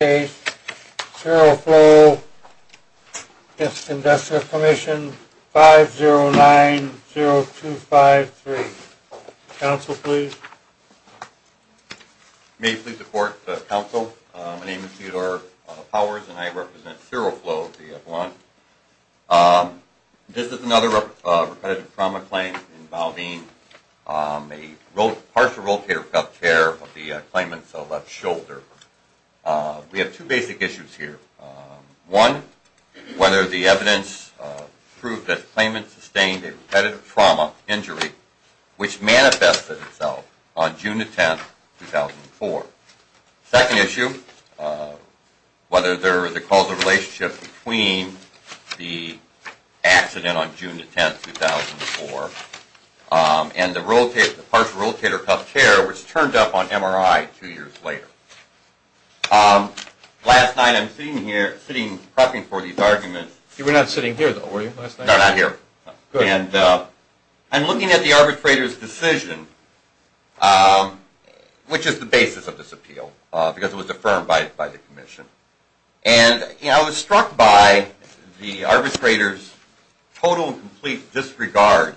Case, Cerro Flow, 509-0253. Council, please. May it please the Court, Council. My name is Theodore Powers, and I represent Cerro Flow v. Avalon. This is another repetitive trauma claim involving a partial rotator cuff tear of the claimant's left shoulder. We have two basic issues here. One, whether the evidence proved that the claimant sustained a repetitive trauma injury, which manifested itself on June 10, 2004. Second issue, whether there was a causal relationship between the accident on June 10, 2004, and the partial rotator cuff tear, which turned up on MRI two years later. Last night, I'm sitting here prepping for these arguments. You were not sitting here, though, were you, last night? No, not here. And I'm looking at the arbitrator's decision, which is the basis of this appeal, because it was affirmed by the Commission. And I was struck by the arbitrator's total and complete disregard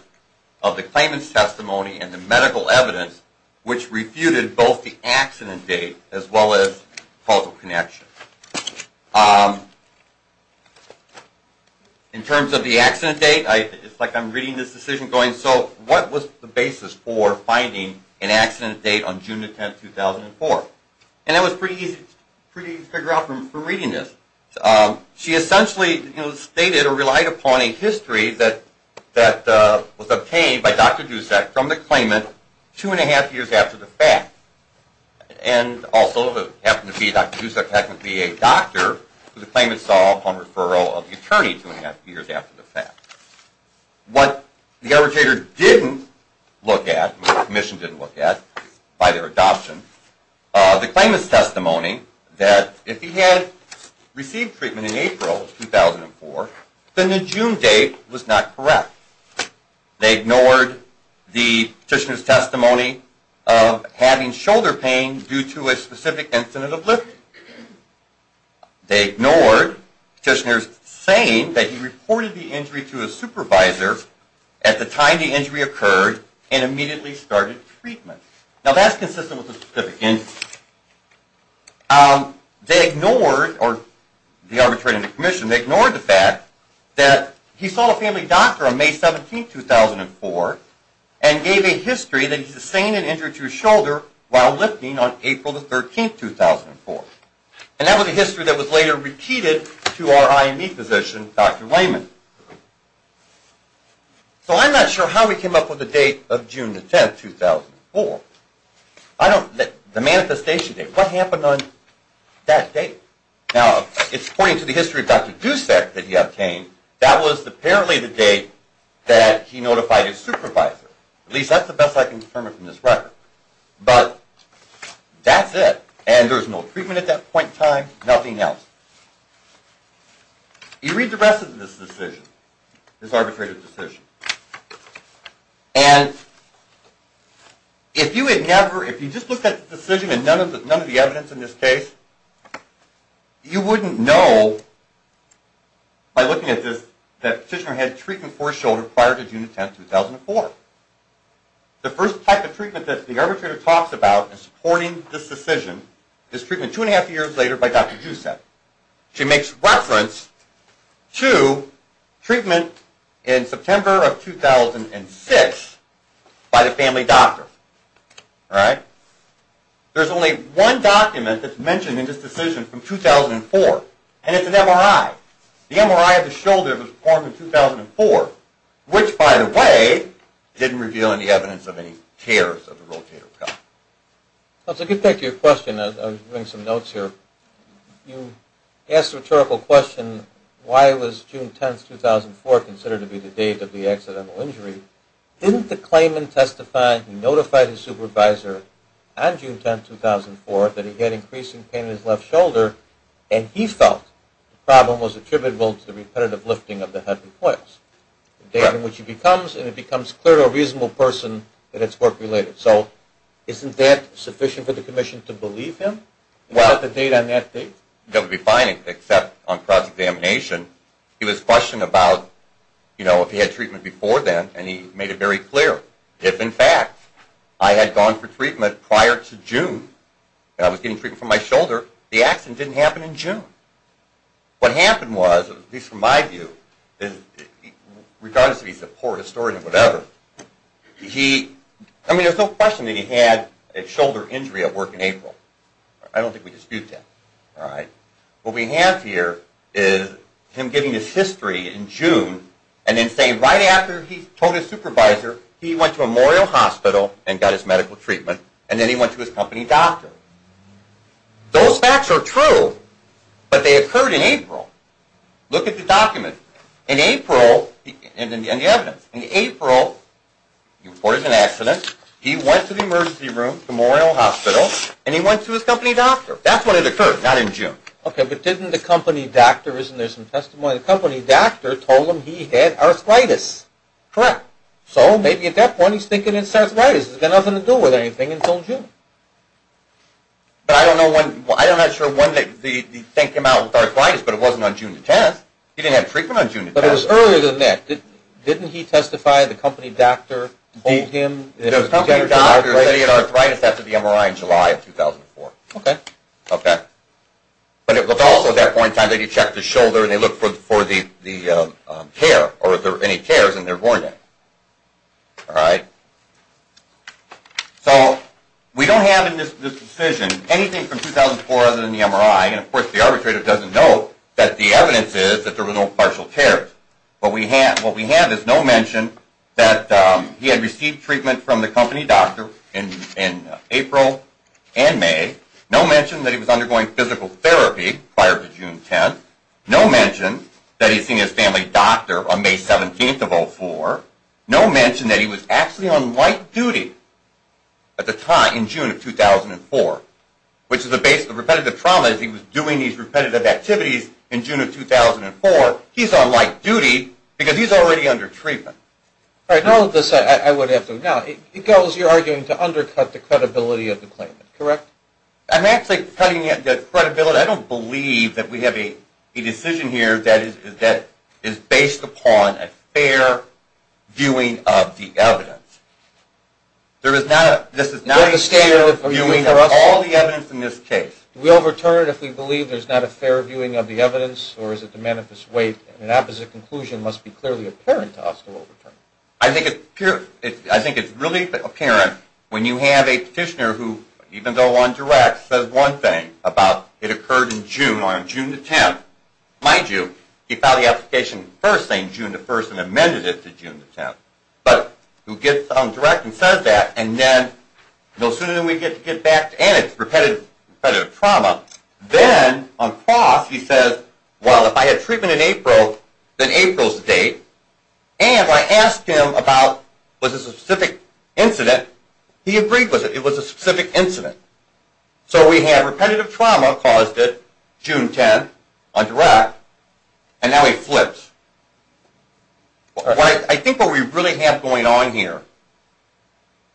of the claimant's testimony and the medical evidence, which refuted both the accident date as well as causal connection. In terms of the accident date, it's like I'm reading this decision going, so what was the basis for finding an accident date on June 10, 2004? And that was pretty easy to figure out from reading this. She essentially stated or relied upon a history that was obtained by Dr. Dusak from the claimant two and a half years after the fact. And also, it happened to be Dr. Dusak happened to be a patient that the Commission didn't look at by their adoption. The claimant's testimony that if he had received treatment in April 2004, then the June date was not correct. They ignored the petitioner's testimony of having shoulder pain due to a specific incident of lifting. They ignored the petitioner's saying that he reported the injury to his supervisor at the time the injury occurred and immediately started treatment. Now, that's consistent with the specific incident. They ignored, or the arbitrator and the Commission, they ignored the fact that he saw a family doctor on May 17, 2004 and gave a history that he sustained an injury to his shoulder while lifting on April 13, 2004. And that was a history that was later repeated to our IME physician, Dr. Layman. So, I'm not sure how we came up with the date of June 10, 2004. The manifestation date, what happened on that date? Now, it's according to the testimony from this record. But, that's it. And there was no treatment at that point in time, nothing else. You read the rest of this decision, this arbitrative decision, and if you had never, if you just looked at the decision and none of the evidence in this case, you wouldn't know by looking at this that the first type of treatment that the arbitrator talks about in supporting this decision is treatment two and a half years later by Dr. Giuseppe. She makes reference to treatment in September of 2006 by the family doctor. There's only one document that's mentioned in this decision from 2004, and it's an MRI. The MRI of the shoulder was performed in 2004, which, by the way, didn't reveal any evidence of any tears of the rotator cuff. Well, to get back to your question, I'll bring some notes here. You asked a rhetorical question, why was June 10, 2004 considered to be the date of the accidental injury? Didn't the claimant testify, he notified his supervisor on June 10, 2004 that he had increasing pain in his left shoulder, and he felt the repetitive lifting of the head and quads, the date on which he becomes, and it becomes clear to a reasonable person that it's work-related. So isn't that sufficient for the commission to believe him? Well, that would be fine, except on cross-examination, he was questioning about, you know, if he had treatment before then, and he made it very clear. If, in fact, I had gone for treatment prior to June, and I was getting treatment for my shoulder, the accident didn't happen in June. What happened was, at least from my view, regardless if he's a poor historian or whatever, he, I mean, there's no question that he had a shoulder injury at work in April. I don't think we dispute that, all right? What we have here is him giving his history in June, and then saying right after he told his supervisor, he went to Memorial Hospital and got his medical treatment, and then he went to his company doctor. Those facts are true, but they occurred in April. Look at the document. In April, and the evidence, in April, he reported an accident, he went to the emergency room, Memorial Hospital, and he went to his Correct. So, maybe at that point, he's thinking it's arthritis. It's got nothing to do with anything until June. But I don't know when, I'm not sure when the thing came out with arthritis, but it wasn't on June the 10th. He didn't have treatment on June the 10th. But it was earlier than that. Didn't he testify, the company doctor told him? The company doctor said he had arthritis after the MRI in July of 2004. Okay. Okay. But it was also at that point in time that he checked his shoulder and they looked for the tear, or if there were any tears, and there weren't any. All right? So, we don't have in this decision anything from 2004 other than the MRI, and of course the doctor in April and May. No mention that he was undergoing physical therapy prior to June 10th. No mention that he'd seen his family doctor on May 17th of 2004. No mention that he was actually on light duty at the time, in June of 2004, which is the basis of repetitive trauma. He was doing these repetitive activities in June of 2004. He's on light duty because he's already under treatment. All right. In all of this, I would have to, now, it goes, you're arguing, to undercut the credibility of the claimant, correct? I'm actually cutting the credibility. I don't believe that we have a decision here that is based upon a fair viewing of the evidence. There is not a, this is not a fair viewing of all the evidence, or is it to manifest weight, and an opposite conclusion must be clearly apparent to Oscar Wolfert. I think it's really apparent when you have a petitioner who, even though on direct, says one thing about it occurred in June, or on June the 10th. Mind you, he filed the application first saying June the 1st and amended it to June the 10th. But, who gets on direct and says that, and then, no sooner than we get back to, and it's repetitive trauma, then, on cross, he says, well, if I had treatment in April, then April's the date. And, if I asked him about, was this a specific incident, he agreed with it. It was a specific incident. So, we have repetitive trauma caused it June 10th on direct, and now he flips. I think what we really have going on here,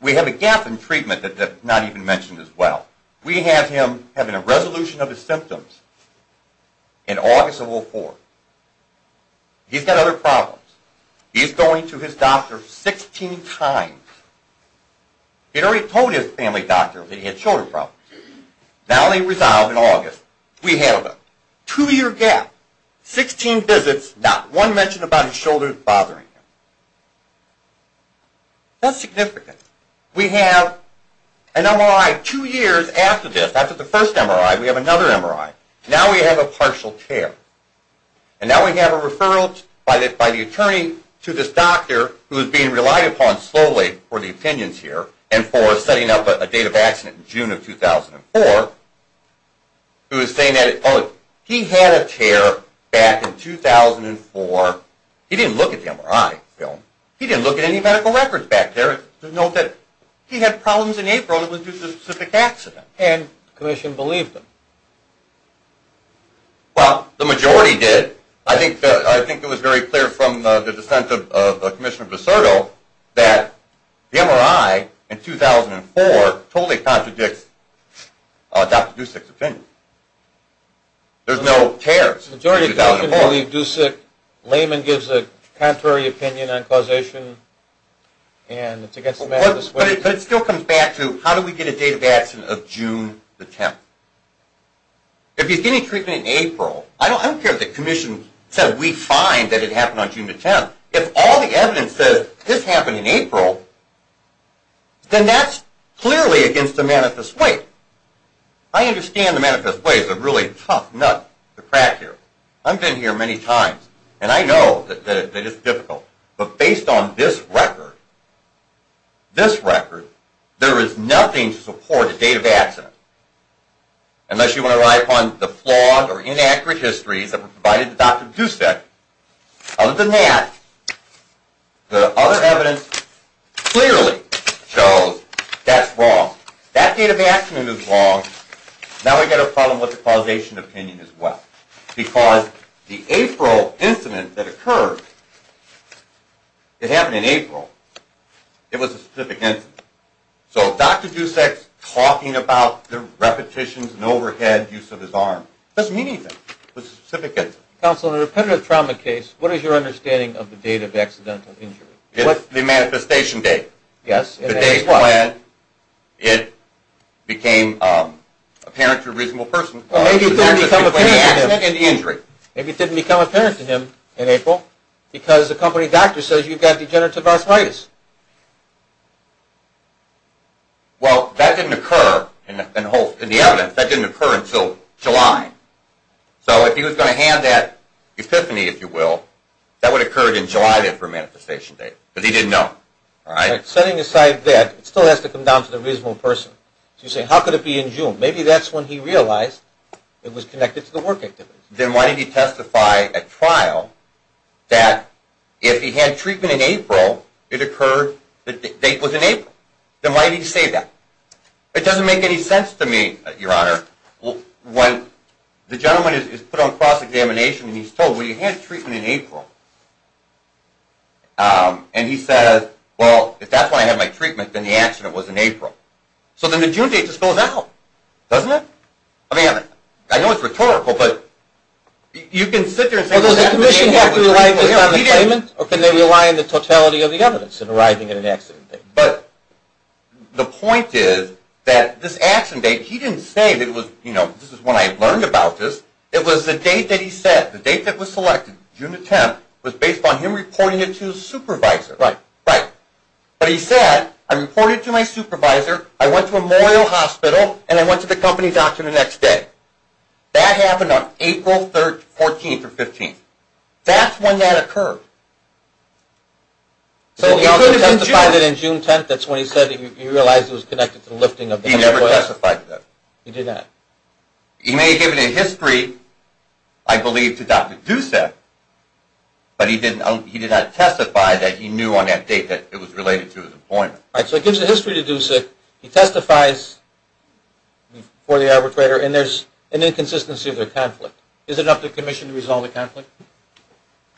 we have a gap in having a resolution of his symptoms in August of 04. He's got other problems. He's going to his doctor 16 times. He'd already told his family doctor that he had shoulder problems. Now they resolve in August. We have a two year gap, 16 visits, not one mention about his shoulders bothering him. That's significant. We have an MRI two years after this. After the first MRI, we have another MRI. Now we have a partial tear. And, now we have a referral by the attorney to this doctor who is being relied upon slowly for the opinions here, and for setting up a date of accident in June of 2004, who is saying that, oh, he had a tear back in 2004. He didn't look at the MRI film. He didn't look at any medical records back there to note that he had problems in April. It was due to a specific accident. And, the commission believed him. Well, the majority did. I think it was very clear from the dissent of Commissioner Biserto that the MRI in 2004 totally contradicts Dr. Dusick's opinion. There's no tears in 2004. Laman gives a contrary opinion on causation, and it's against the Manifest Way. But, it still comes back to, how do we get a date of accident of June the 10th? If he's getting treatment in April, I don't care if the commission said we find that it happened on June the 10th. If all the evidence says this happened in April, then that's clearly against the Manifest Way. I understand the Manifest Way is a really tough nut to crack here. I've been here many times, and I know that it's difficult. But, based on this record, this record, there is nothing to support the date of accident, unless you want to rely upon the flawed or inaccurate histories that were provided to Dr. Dusick. Other than that, the other evidence clearly shows that's wrong. That date of accident is wrong. Now, we've got a problem with the causation opinion as well. Because, the April incident that occurred, it happened in April. It was a specific incident. So, Dr. Dusick talking about the repetitions and overhead use of his arm doesn't mean anything. It was a specific incident. Counsel, in a repetitive trauma case, what is your understanding of the date of accidental injury? It's the manifestation date. The date when it became apparent to a reasonable person. Maybe it didn't become apparent to him in April, because the company doctor says you've got degenerative arthritis. Well, that didn't occur, in the evidence, that didn't occur until July. So, if he was going to hand that epiphany, if you will, that would have occurred in July for a manifestation date, because he didn't know. Setting aside that, it still has to come down to the reasonable person. So, you say, how could it be in June? Maybe that's when he realized it was connected to the work activities. Then why did he testify at trial that if he had treatment in April, it occurred, the date was in April. Then why did he say that? It doesn't make any sense to me, your honor, when the gentleman is put on cross-examination and he's told, well, you had treatment in April. And he says, well, if that's when I had my treatment, then the accident was in April. So, then the June date just goes out, doesn't it? I mean, I know it's rhetorical, but you can sit there and say that. Well, does the commission have to rely just on the claimant, or can they rely on the totality of the evidence in arriving at an accident date? But, the point is that this accident date, he didn't say that it was, you know, this is when I learned about this. It was the date that he said, the date that was selected, June 10th, was based on him reporting it to his supervisor. Right. Right. But he said, I reported it to my supervisor, I went to Memorial Hospital, and I went to the company doctor the next day. That happened on April 14th or 15th. That's when that occurred. So, he could have testified that in June 10th, that's when he said he realized it was connected to the lifting of the airway? He never testified to that. He did not. He may have given a history, I believe, to Dr. Dusik, but he did not testify that he knew on that date that it was related to his appointment. All right, so he gives a history to Dusik, he testifies before the arbitrator, and there's an inconsistency of their conflict. Is it up to the commission to resolve the conflict?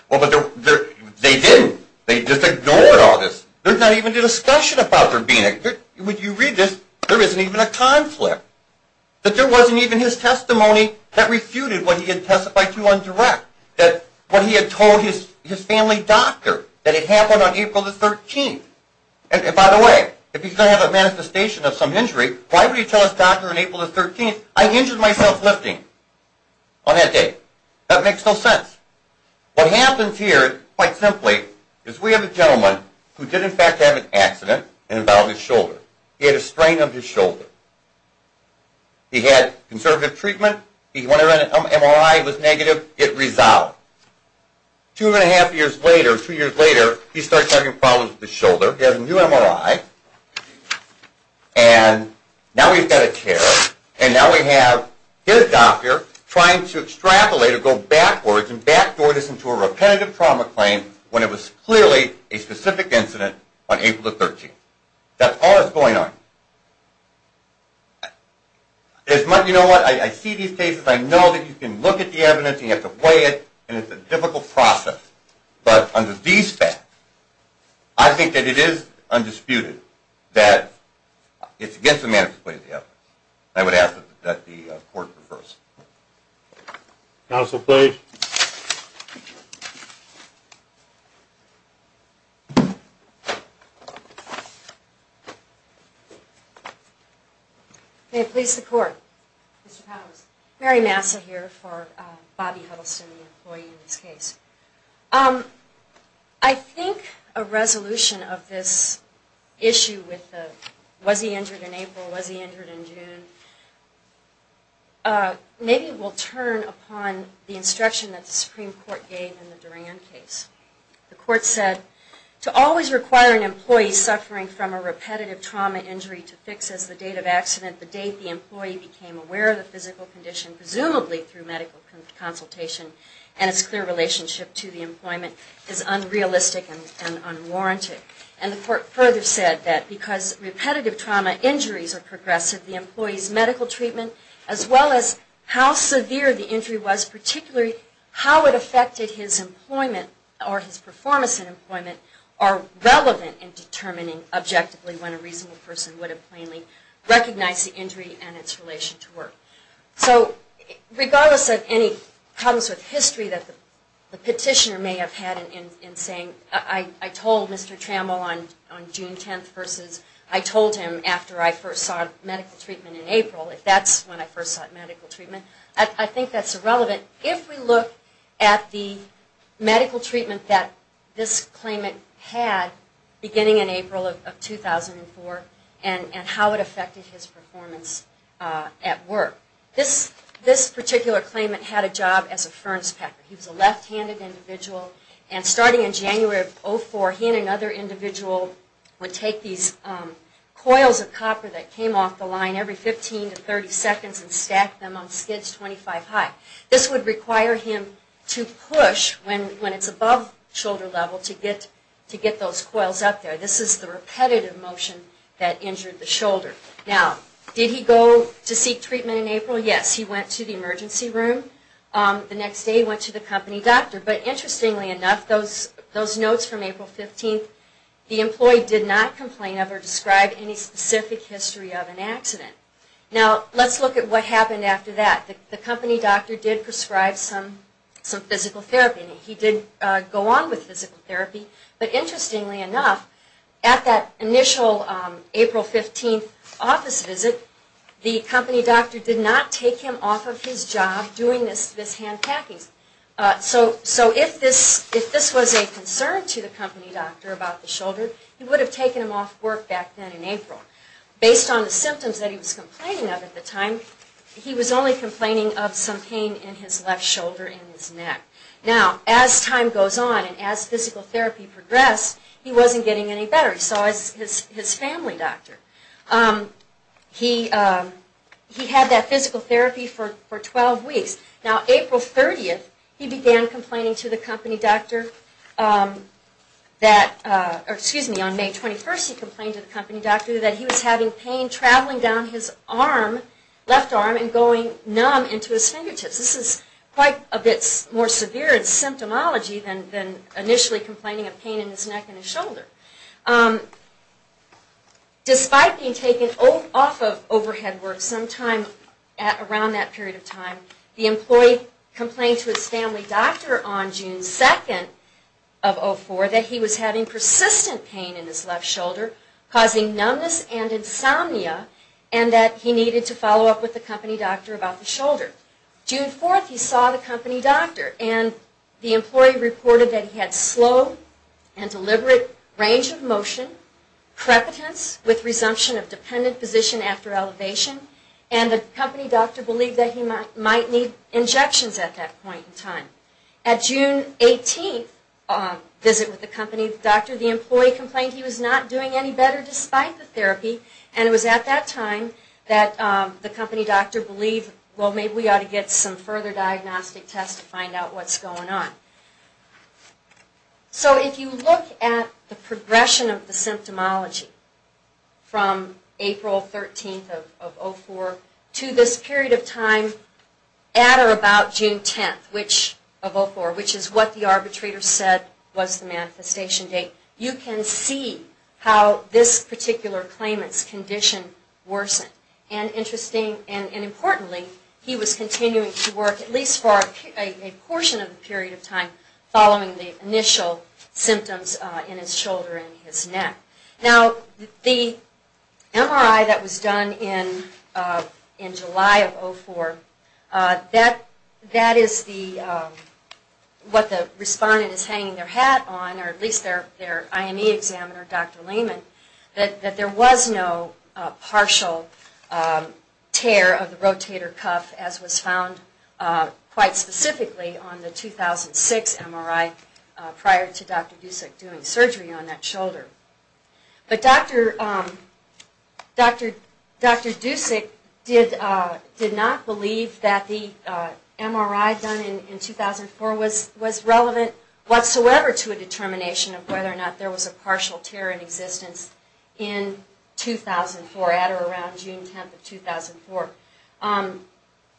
Well, but they didn't. They just ignored all this. There's not even a discussion about there being a – when you read this, there isn't even a conflict. That there wasn't even his testimony that refuted what he had testified to on direct. That what he had told his family doctor, that it happened on April 13th. And by the way, if he's going to have a manifestation of some injury, why would he tell his doctor on April 13th, I injured myself lifting on that day? That makes no sense. What happens here, quite simply, is we have a gentleman who did in fact have an accident and involved his shoulder. He had a strain of his shoulder. He had conservative treatment. He went around and MRI was negative. It resolved. Two and a half years later, two years later, he starts having problems with his shoulder. He has a new MRI. And now he's got a tear. And now we have his doctor trying to extrapolate or go backwards and backdoor this into a repetitive trauma claim when it was clearly a specific incident on April 13th. That's all that's going on. You know what? I see these cases. I know that you can look at the evidence and you have to weigh it, and it's a difficult process. But under these facts, I think that it is undisputed that it's against the manifest way of the evidence. I would ask that the court prefers. Counsel, please. May it please the court. Mary Massa here for Bobby Huddleston, the employee in this case. I think a resolution of this issue with the was he injured in April, was he injured in June, maybe will turn upon the instruction that the Supreme Court gave in the Duran case. The court said, to always require an employee suffering from a repetitive trauma injury to fix as the date of accident, the date the employee became aware of the physical condition, presumably through medical consultation, and its clear relationship to the employment, is unrealistic and unwarranted. And the court further said that because repetitive trauma injuries are progressive, the employee's medical treatment, as well as how severe the injury was, are relevant in determining objectively when a reasonable person would have plainly recognized the injury and its relation to work. So regardless of any problems with history that the petitioner may have had in saying, I told Mr. Trammell on June 10th versus I told him after I first sought medical treatment in April, if that's when I first sought medical treatment, I think that's irrelevant. If we look at the medical treatment that this claimant had, beginning in April of 2004, and how it affected his performance at work. This particular claimant had a job as a ferns packer. He was a left-handed individual. And starting in January of 04, he and another individual would take these coils of copper that came off the line every 15 to 30 seconds and stack them on skids 25 high. This would require him to push when it's above shoulder level to get those coils up there. This is the repetitive motion that injured the shoulder. Now, did he go to seek treatment in April? Yes, he went to the emergency room. The next day he went to the company doctor. But interestingly enough, those notes from April 15th, the employee did not complain of or describe any specific history of an accident. Now, let's look at what happened after that. The company doctor did prescribe some physical therapy. He did go on with physical therapy. But interestingly enough, at that initial April 15th office visit, the company doctor did not take him off of his job doing this hand packing. So if this was a concern to the company doctor about the shoulder, based on the symptoms that he was complaining of at the time, he was only complaining of some pain in his left shoulder and his neck. Now, as time goes on and as physical therapy progressed, he wasn't getting any better. He saw his family doctor. He had that physical therapy for 12 weeks. Now, April 30th, he began complaining to the company doctor that, excuse me, on May 21st he complained to the company doctor that he was having pain traveling down his arm, left arm, and going numb into his fingertips. This is quite a bit more severe in symptomology than initially complaining of pain in his neck and his shoulder. Despite being taken off of overhead work sometime around that period of time, the employee complained to his family doctor on June 2nd of 04 that he was having persistent pain in his left shoulder, causing numbness and insomnia, and that he needed to follow up with the company doctor about the shoulder. June 4th, he saw the company doctor, and the employee reported that he had slow and deliberate range of motion, prepotence with resumption of dependent position after elevation, and the company doctor believed that he might need injections at that point in time. At June 18th visit with the company doctor, the employee complained he was not doing any better despite the therapy, and it was at that time that the company doctor believed, well, maybe we ought to get some further diagnostic tests to find out what's going on. So if you look at the progression of the symptomology from April 13th of 04 to this period of time at or about June 10th, which is what the arbitrator said was the manifestation date, you can see how this particular claimant's condition worsened. And interestingly, and importantly, he was continuing to work at least for a portion of the period of time following the initial symptoms in his shoulder and his neck. Now the MRI that was done in July of 04, that is what the respondent is hanging their hat on, or at least their IME examiner, Dr. Lehman, that there was no partial tear of the rotator cuff as was found quite specifically on the 2006 MRI prior to Dr. Dusik doing surgery on that shoulder. But Dr. Dusik did not believe that the MRI done in 2004 was relevant whatsoever to a determination of whether or not there was a partial tear in existence in 2004 at or around June 10th of 2004.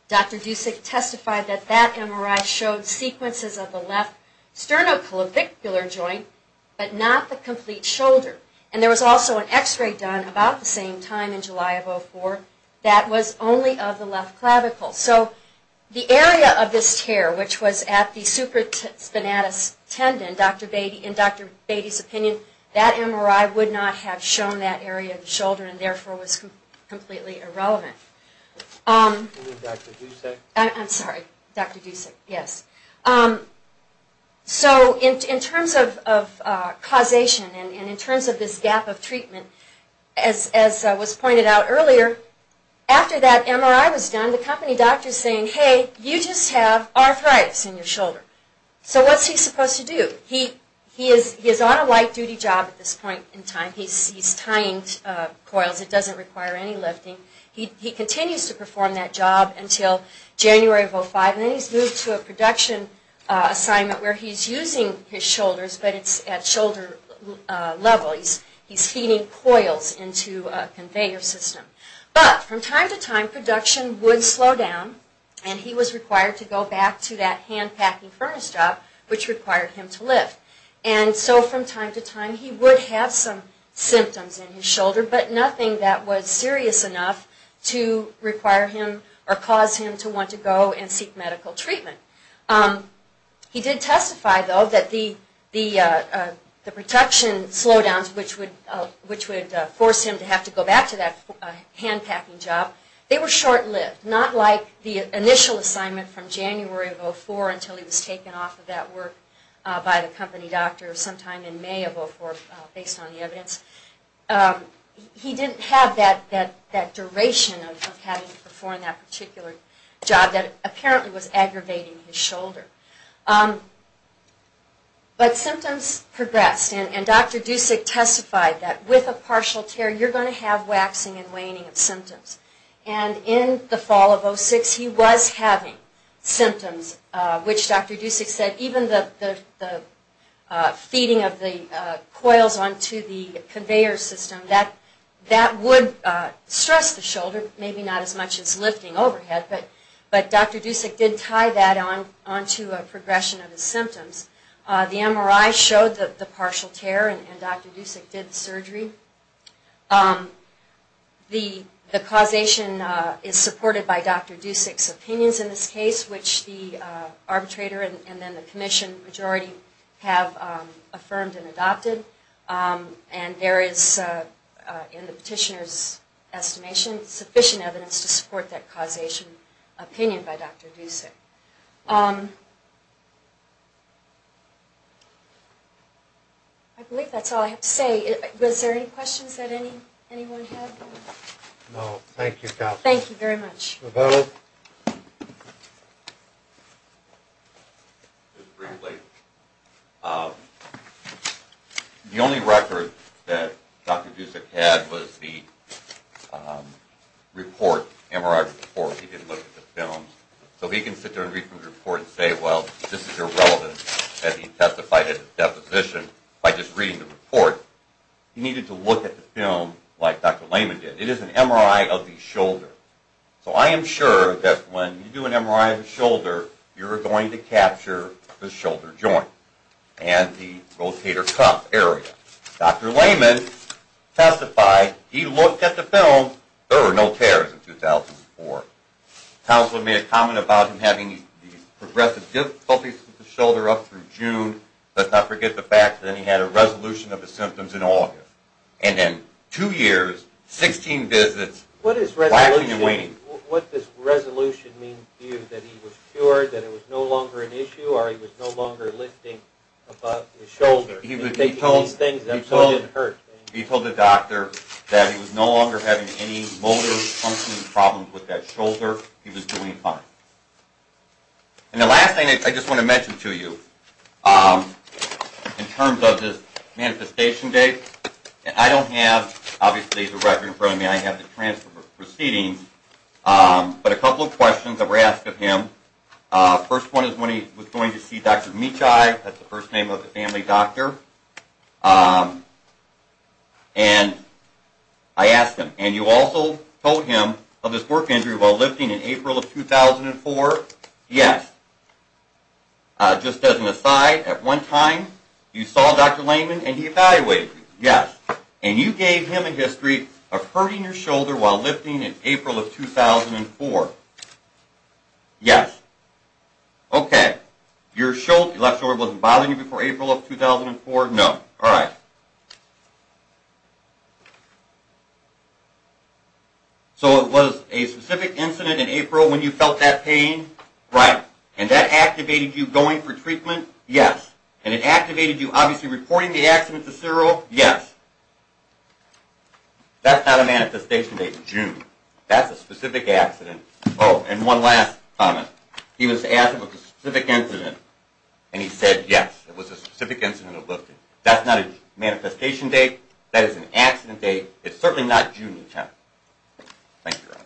Dr. Dusik testified that that MRI showed sequences of the left sternoclavicular joint but not the complete shoulder. And there was also an x-ray done about the same time in July of 04 that was only of the left clavicle. So the area of this tear, which was at the supraspinatus tendon, in Dr. Beatty's opinion, that MRI would not have shown that area of the shoulder and therefore was completely irrelevant. I'm sorry, Dr. Dusik, yes. So in terms of causation and in terms of this gap of treatment, as was pointed out earlier, after that MRI was done, the company doctor is saying, hey, you just have arthritis in your shoulder. So what's he supposed to do? He is on a light-duty job at this point in time. He's tying coils. It doesn't require any lifting. He continues to perform that job until January of 2005. And then he's moved to a production assignment where he's using his shoulders, but it's at shoulder level. He's feeding coils into a conveyor system. But from time to time, production would slow down and he was required to go back to that hand-packing furnace job, which required him to lift. And so from time to time, he would have some symptoms in his shoulder, but nothing that was serious enough to require him or cause him to want to go and seek medical treatment. He did testify, though, that the production slowdowns, which would force him to have to go back to that hand-packing job, they were short-lived, not like the initial assignment from January of 2004 until he was taken off of that work by the company doctor sometime in May of 2004, based on the evidence. He didn't have that duration of having to perform that particular job that apparently was aggravating his shoulder. But symptoms progressed. And Dr. Dusik testified that with a partial tear, you're going to have waxing and waning of symptoms. And in the fall of 2006, he was having symptoms, which Dr. Dusik said even the feeding of the coils onto the conveyor system, that would stress the shoulder, maybe not as much as lifting overhead, but Dr. Dusik did tie that onto a progression of his symptoms. The MRI showed the partial tear, and Dr. Dusik did the surgery. The causation is supported by Dr. Dusik's opinions in this case, which the arbitrator and then the commission majority have affirmed and adopted. And there is, in the petitioner's estimation, sufficient evidence to support that causation opinion by Dr. Dusik. I believe that's all I have to say. Was there any questions that anyone had? No. Thank you, Kathy. Thank you very much. Mr. Vettel? Just briefly. The only record that Dr. Dusik had was the report, MRI report. He didn't look at the film. So he can sit there and read from the report and say, well, this is irrelevant, as he testified at his deposition, by just reading the report. He needed to look at the film like Dr. Lehman did. It is an MRI of the shoulder. So I am sure that when you do an MRI of the shoulder, you're going to capture the shoulder joint and the rotator cuff area. Dr. Lehman testified. He looked at the film. There were no tears in 2004. Counselor made a comment about him having these progressive difficulties with his shoulder up through June. Let's not forget the fact that he had a resolution of his symptoms in August. And then two years, 16 visits, quackling and waning. What does resolution mean to you? That he was cured, that it was no longer an issue, or he was no longer lifting above his shoulder? He told the doctor that he was no longer having any motor, functioning problems with that shoulder. He was doing fine. And the last thing I just want to mention to you, in terms of this manifestation date, I don't have, obviously, the record in front of me. I have the transfer proceedings. But a couple of questions that were asked of him. First one is when he was going to see Dr. Michai. That's the first name of the family doctor. And I asked him, and you also told him of his work injury while lifting in April of 2004? Yes. Just as an aside, at one time you saw Dr. Layman and he evaluated you? Yes. And you gave him a history of hurting your shoulder while lifting in April of 2004? Yes. Okay. Your left shoulder wasn't bothering you before April of 2004? No. All right. So it was a specific incident in April when you felt that pain? Right. And that activated you going for treatment? Yes. And it activated you, obviously, reporting the accident to CERO? Yes. That's not a manifestation date. June. That's a specific accident. Oh, and one last comment. He was asked if it was a specific incident, and he said yes. It was a specific incident of lifting. That's not a manifestation date. That is an accident date. It's certainly not June the 10th. Thank you, Ron.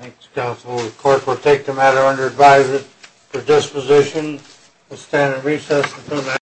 Thanks, counsel. The court will take the matter under advisement for disposition. We'll stand at recess until that.